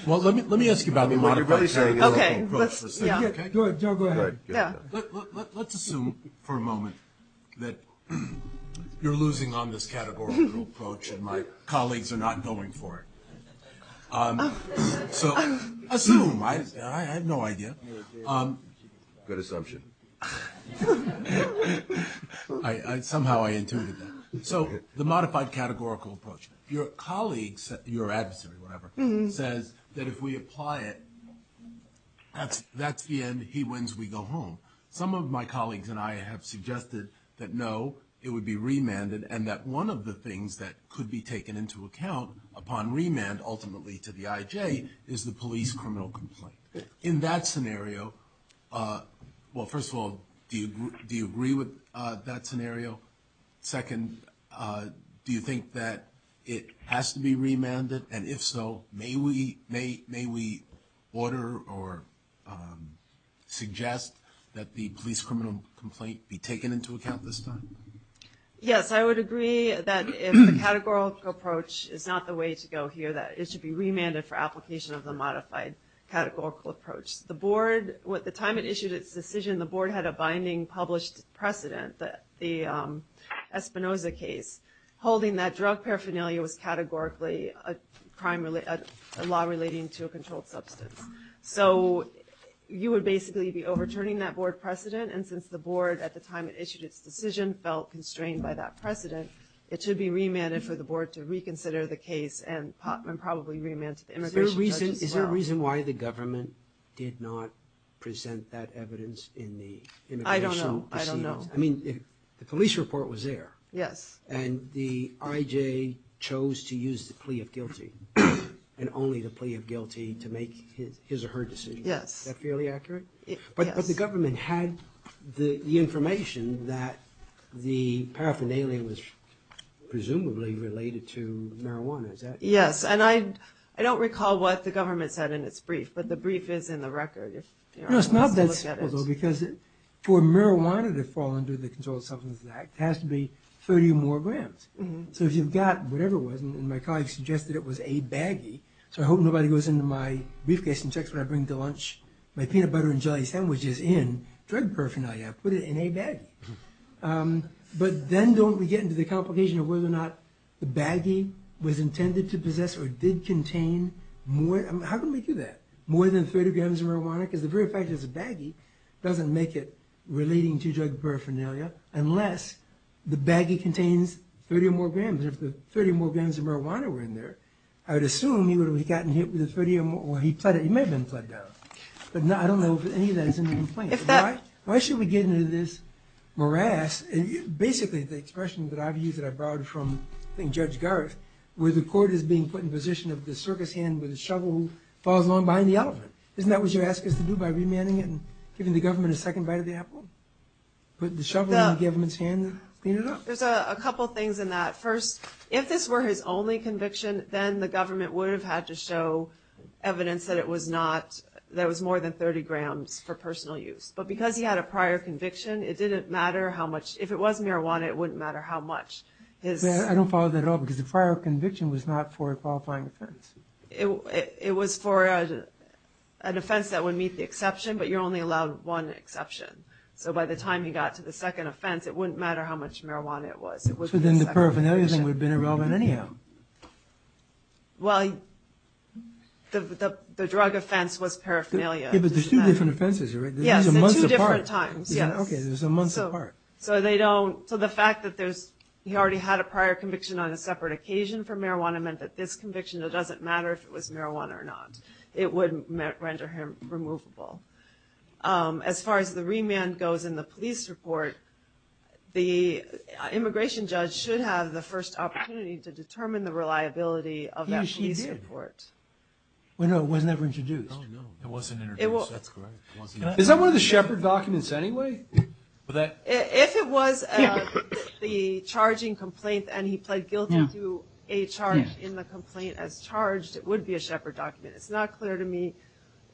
Well, let me ask you about the modified categorical approach for a second. Okay. Go ahead, Joe. Go ahead. Let's assume for a moment that you're losing on this categorical approach and my colleagues are not going for it. So assume. I have no idea. Good assumption. Somehow I intuited that. So the modified categorical approach, your colleagues, your adversary, whatever, says that if we apply it, that's the end. He wins. We go home. Some of my colleagues and I have suggested that no, it would be remanded and that one of the things that could be taken into account upon remand ultimately to the IJ is the police criminal complaint. In that scenario – well, first of all, do you agree with that scenario? Second, do you think that it has to be remanded? And if so, may we order or suggest that the police criminal complaint be taken into account this time? Yes, I would agree that if the categorical approach is not the way to go here, that it should be remanded for application of the modified categorical approach. At the time it issued its decision, the board had a binding published precedent, the Espinoza case, holding that drug paraphernalia was categorically a law relating to a controlled substance. So you would basically be overturning that board precedent, and since the board at the time it issued its decision felt constrained by that precedent, it should be remanded for the board to reconsider the case and probably remand to the immigration judge as well. Is there a reason why the government did not present that evidence in the immigration proceedings? I don't know. I don't know. I mean, the police report was there. Yes. And the IJ chose to use the plea of guilty and only the plea of guilty to make his or her decision. Yes. Is that fairly accurate? Yes. But the government had the information that the paraphernalia was presumably related to marijuana, is that correct? Yes. And I don't recall what the government said in its brief, but the brief is in the record. No, it's not that simple, though, because for marijuana to fall under the Controlled Substances Act, it has to be 30 or more grams. So if you've got whatever it was, and my colleague suggested it was a baggie, so I hope nobody goes into my briefcase and checks when I bring to lunch my peanut butter and jelly sandwiches in, drug paraphernalia, put it in a baggie. But then don't we get into the complication of whether or not the baggie was intended to possess or did contain more? How can we do that? More than 30 grams of marijuana? Because the very fact it's a baggie doesn't make it relating to drug paraphernalia unless the baggie contains 30 or more grams. And if the 30 or more grams of marijuana were in there, I would assume he would have gotten hit with the 30 or more. He may have been fled down. But I don't know if any of that is in the complaint. Why should we get into this morass? Basically, the expression that I've used that I borrowed from Judge Garth, where the court is being put in position of the circus hand with a shovel who follows along behind the elephant. Isn't that what you're asking us to do by remanding it and giving the government a second bite of the apple? Put the shovel in the government's hand and clean it up? There's a couple things in that. First, if this were his only conviction, then the government would have had to show evidence that it was more than 30 grams for personal use. But because he had a prior conviction, it didn't matter how much. If it was marijuana, it wouldn't matter how much. I don't follow that at all because the prior conviction was not for a qualifying offense. It was for an offense that would meet the exception, but you're only allowed one exception. So by the time he got to the second offense, it wouldn't matter how much marijuana it was. So then the paraphernalia thing would have been irrelevant anyhow. Well, the drug offense was paraphernalia. Yeah, but there's two different offenses, right? Yes, at two different times. Okay, there's a month apart. So the fact that he already had a prior conviction on a separate occasion for marijuana meant that this conviction, it doesn't matter if it was marijuana or not. It wouldn't render him removable. As far as the remand goes in the police report, the immigration judge should have the first opportunity to determine the reliability of that police report. Well, no, it was never introduced. It wasn't introduced, that's correct. Is that one of the Shepard documents anyway? If it was the charging complaint and he pled guilty to a charge in the complaint as charged, it would be a Shepard document. It's not clear to me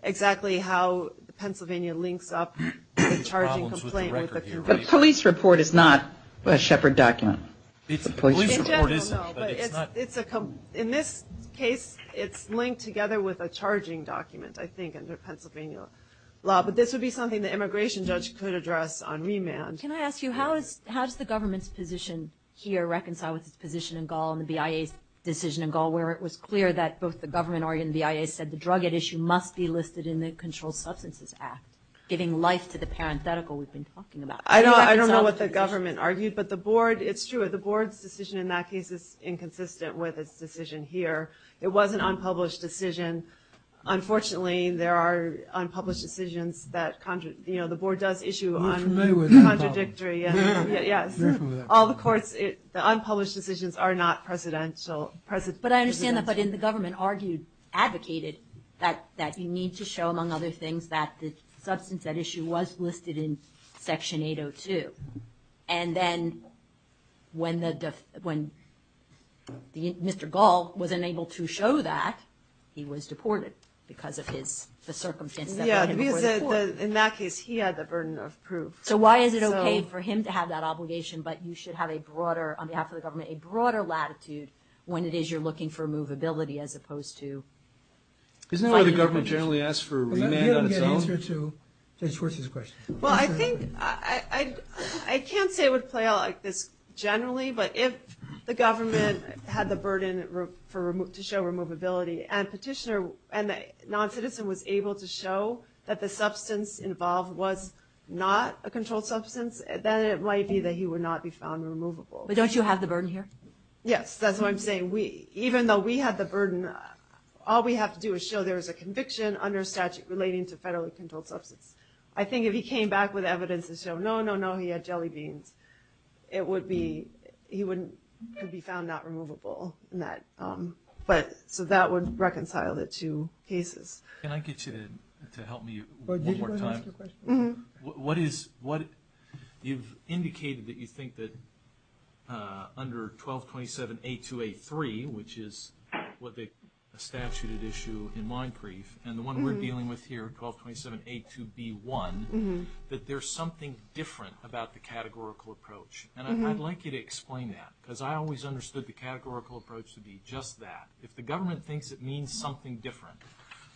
exactly how Pennsylvania links up the charging complaint with the conviction. The police report is not a Shepard document. The police report isn't, but it's not. In this case, it's linked together with a charging document, I think, under Pennsylvania law, but this would be something the immigration judge could address on remand. Can I ask you, how does the government's position here reconcile with its position in Gall and the BIA's decision in Gall where it was clear that both the government and the BIA said the drug at issue must be listed in the Controlled Substances Act, giving life to the parenthetical we've been talking about? I don't know what the government argued, but the board, it's true, the board's decision in that case is inconsistent with its decision here. It was an unpublished decision. Unfortunately, there are unpublished decisions that, you know, the board does issue on contradictory, yes. All the courts, the unpublished decisions are not presidential. But I understand that, but the government argued, advocated, that you need to show, among other things, that the substance at issue was listed in Section 802. And then when Mr. Gall wasn't able to show that, he was deported because of the circumstance that brought him before the court. In that case, he had the burden of proof. So why is it okay for him to have that obligation, but you should have a broader, on behalf of the government, a broader latitude when it is you're looking for movability as opposed to finding information? Isn't that why the government generally asks for remand on its own? You don't get an answer to Judge Schwartz's question. Well, I think I can't say it would play out like this generally, but if the government had the burden to show removability and the non-citizen was able to show that the substance involved was not a controlled substance, then it might be that he would not be found removable. But don't you have the burden here? Yes, that's what I'm saying. Even though we have the burden, all we have to do is show there is a conviction under statute relating to federally controlled substance. I think if he came back with evidence to show, no, no, no, he had jelly beans, he would be found not removable. So that would reconcile the two cases. Can I get you to help me one more time? Go ahead and ask your question. You've indicated that you think that under 1227A2A3, which is a statute at issue in mine brief, and the one we're dealing with here, 1227A2B1, that there's something different about the categorical approach. And I'd like you to explain that, because I always understood the categorical approach to be just that. If the government thinks it means something different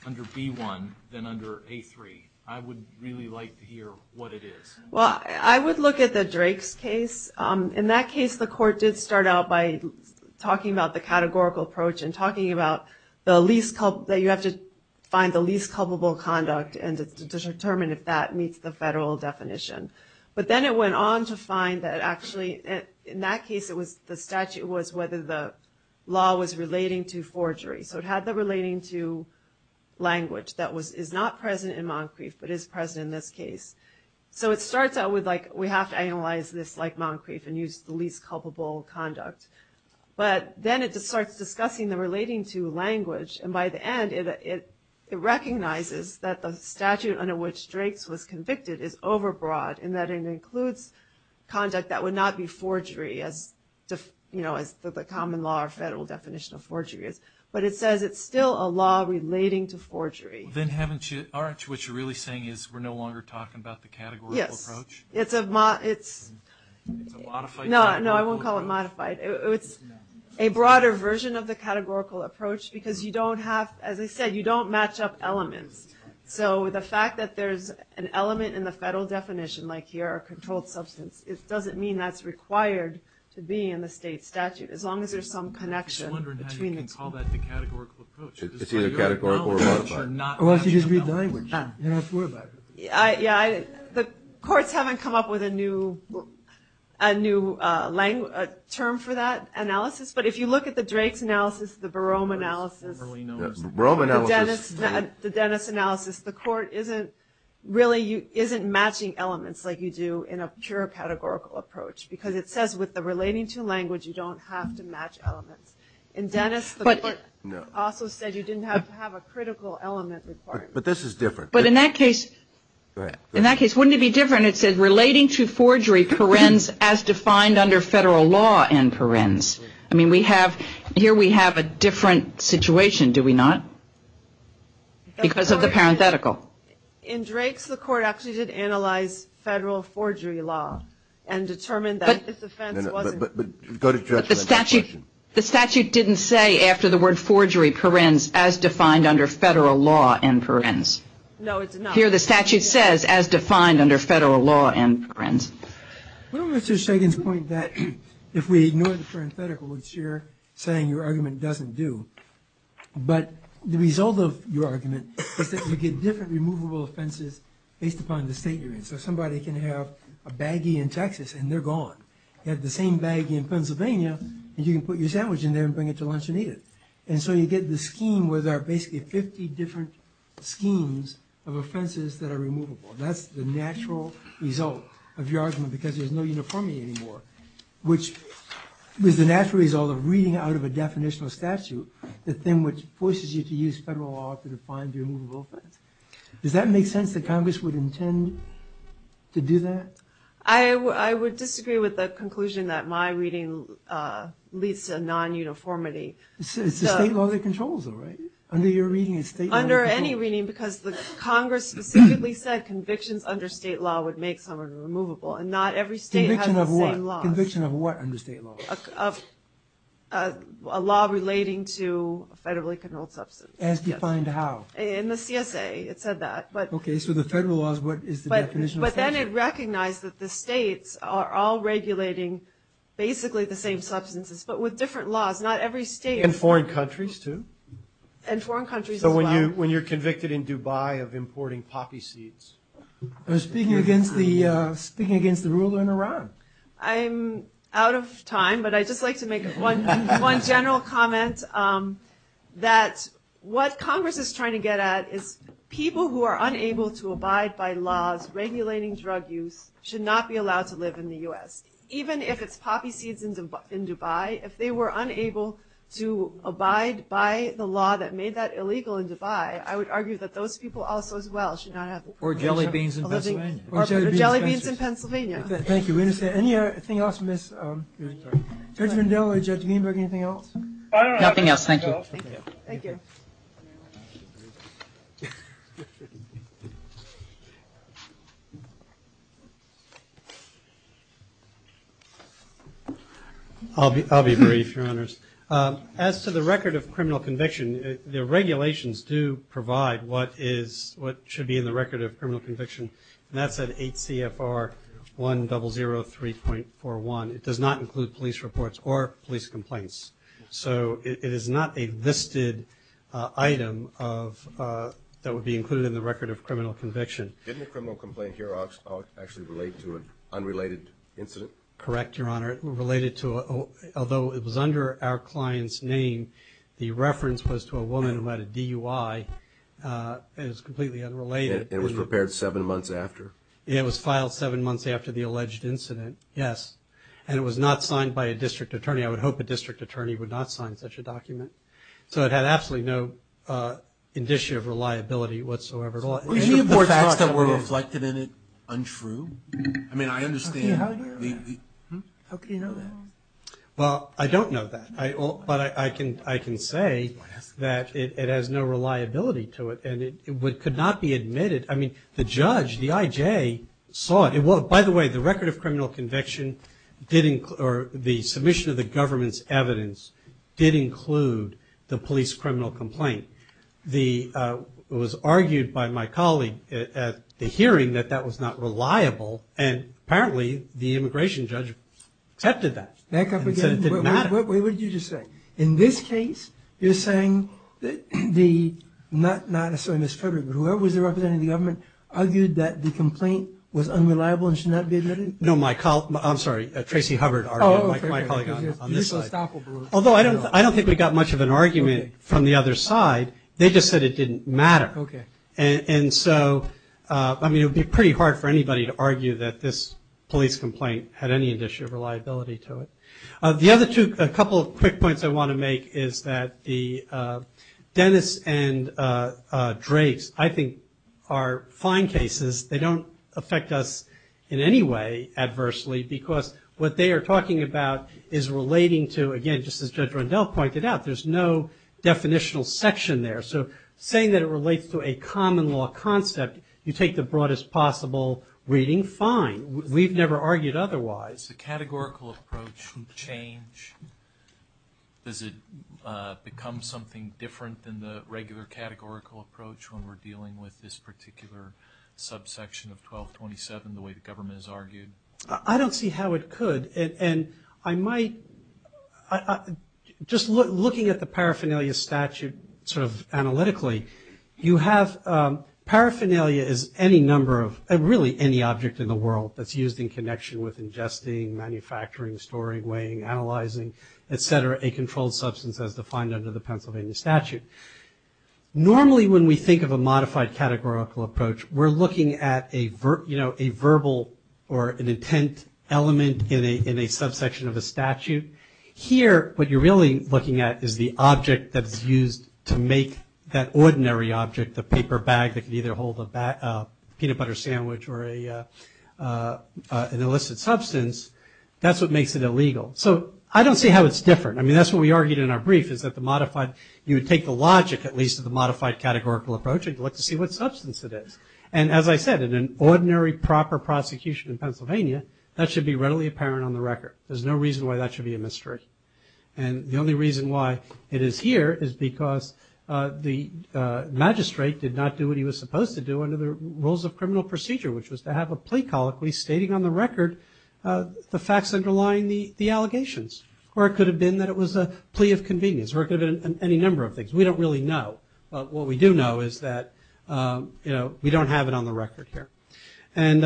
under B1 than under A3, I would really like to hear what it is. Well, I would look at the Drake's case. In that case, the court did start out by talking about the categorical approach and talking about that you have to find the least culpable conduct and determine if that meets the federal definition. But then it went on to find that actually, in that case, the statute was whether the law was relating to forgery. So it had the relating to language that is not present in Moncrief, but is present in this case. So it starts out with, like, we have to analyze this like Moncrief and use the least culpable conduct. But then it starts discussing the relating to language, and by the end it recognizes that the statute under which Drake's was convicted is overbroad in that it includes conduct that would not be forgery, as the common law or federal definition of forgery is. But it says it's still a law relating to forgery. Then aren't you really saying we're no longer talking about the categorical approach? Yes. It's a modified categorical approach. No, I won't call it modified. It's a broader version of the categorical approach because you don't have, as I said, you don't match up elements. So the fact that there's an element in the federal definition, like here a controlled substance, it doesn't mean that's required to be in the state statute, as long as there's some connection between the two. I'm just wondering how you can call that the categorical approach. It's either categorical or modified. Well, if you just read the language. Yeah, the courts haven't come up with a new term for that analysis, but if you look at the Drake's analysis, the Barome analysis, the Dennis analysis, the court isn't matching elements like you do in a pure categorical approach because it says with the relating to language you don't have to match elements. In Dennis, the court also said you didn't have to have a critical element requirement. But this is different. But in that case, wouldn't it be different? It said relating to forgery perens as defined under federal law and perens. I mean, here we have a different situation, do we not? Because of the parenthetical. In Drake's, the court actually did analyze federal forgery law and determined that this offense wasn't. But the statute didn't say after the word forgery perens as defined under federal law and perens. No, it did not. Here the statute says as defined under federal law and perens. Well, Mr. Shagan's point that if we ignore the parenthetical, which you're saying your argument doesn't do, but the result of your argument is that we get different removable offenses based upon the state you're in. So somebody can have a baggie in Texas and they're gone. You have the same baggie in Pennsylvania and you can put your sandwich in there and bring it to lunch and eat it. And so you get the scheme where there are basically 50 different schemes of offenses that are removable. That's the natural result of your argument because there's no uniformity anymore, which is the natural result of reading out of a definitional statute the thing which forces you to use federal law to define the removable offense. Does that make sense that Congress would intend to do that? I would disagree with the conclusion that my reading leads to non-uniformity. It's a state law that controls them, right? Under your reading it's state law that controls them. Under any reading because Congress specifically said convictions under state law would make someone removable. And not every state has the same laws. Conviction of what? Conviction of what under state law? A law relating to a federally controlled substance. As defined how? In the CSA it said that. Okay, so the federal laws, what is the definition of federal? But then it recognized that the states are all regulating basically the same substances but with different laws. Not every state. And foreign countries too? And foreign countries as well. So when you're convicted in Dubai of importing poppy seeds. I was speaking against the ruler in Iran. I'm out of time but I'd just like to make one general comment that what I'm trying to get at is people who are unable to abide by laws regulating drug use should not be allowed to live in the U.S. Even if it's poppy seeds in Dubai, if they were unable to abide by the law that made that illegal in Dubai, I would argue that those people also as well should not have. Or jelly beans in Pennsylvania. Or jelly beans in Pennsylvania. Thank you. Anything else, Judge Lindell or Judge Greenberg, anything else? Nothing else. Thank you. Thank you. I'll be brief, Your Honors. As to the record of criminal conviction, the regulations do provide what should be in the record of criminal conviction. And that's at 8 CFR 1003.41. It does not include police reports or police complaints. So it is not a listed item that would be included in the record of criminal conviction. Didn't the criminal complaint here actually relate to an unrelated incident? Correct, Your Honor. It related to, although it was under our client's name, the reference was to a woman who had a DUI. It was completely unrelated. And it was prepared seven months after? It was filed seven months after the alleged incident, yes. And it was not signed by a district attorney. I would hope a district attorney would not sign such a document. So it had absolutely no indicia of reliability whatsoever. Any of the facts that were reflected in it untrue? I mean, I understand. How do you know that? Well, I don't know that. But I can say that it has no reliability to it. And it could not be admitted. I mean, the judge, the IJ, saw it. By the way, the record of criminal conviction didn't, or the submission of the government's evidence, didn't include the police criminal complaint. It was argued by my colleague at the hearing that that was not reliable, and apparently the immigration judge accepted that. Back up again. It didn't matter. Wait, what did you just say? In this case, you're saying that the, not necessarily Ms. Frederick, but whoever was representing the government, argued that the complaint was unreliable and should not be admitted? No, my colleague. I'm sorry, Tracy Hubbard argued. My colleague on this side. Although I don't think we got much of an argument from the other side. They just said it didn't matter. And so, I mean, it would be pretty hard for anybody to argue that this police complaint had any indicia of reliability to it. The other two, a couple of quick points I want to make, is that the Dennis and Draves, I think, are fine cases. They don't affect us in any way adversely, because what they are talking about is relating to, again, just as Judge Rundell pointed out, there's no definitional section there. So saying that it relates to a common law concept, you take the broadest possible reading, fine. We've never argued otherwise. Does the categorical approach change? Does it become something different than the regular categorical approach when we're dealing with this particular subsection of 1227, the way the government has argued? I don't see how it could. And I might, just looking at the paraphernalia statute sort of analytically, you have paraphernalia is any number of, really, any object in the world that's used in connection with ingesting, manufacturing, storing, weighing, analyzing, et cetera, a controlled substance as defined under the Pennsylvania statute. Normally, when we think of a modified categorical approach, we're looking at a verbal or an intent element in a subsection of a statute. Here, what you're really looking at is the object that's used to make that ordinary object, the paper bag that could either hold a peanut butter sandwich or an illicit substance, that's what makes it illegal. So I don't see how it's different. I mean, that's what we argued in our brief, is that you would take the logic, at least, of the modified categorical approach and look to see what substance it is. And as I said, in an ordinary proper prosecution in Pennsylvania, that should be readily apparent on the record. There's no reason why that should be a mystery. And the only reason why it is here is because the magistrate did not do what he was supposed to do under the rules of criminal procedure, which was to have a plea colloquy stating on the record the facts underlying the allegations. Or it could have been that it was a plea of convenience, or it could have been any number of things. We don't really know. What we do know is that we don't have it on the record here. And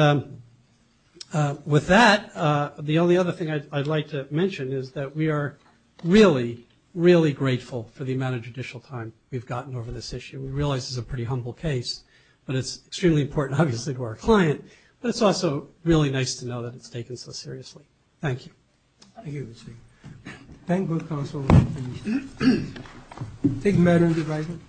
with that, the only other thing I'd like to mention is that we are really, really grateful for the amount of judicial time we've gotten over this issue. We realize this is a pretty humble case, but it's extremely important, obviously, to our client. But it's also really nice to know that it's taken so seriously. Thank you. Thank you. Thank you. Thank you, counsel. Take the matter into your right hand.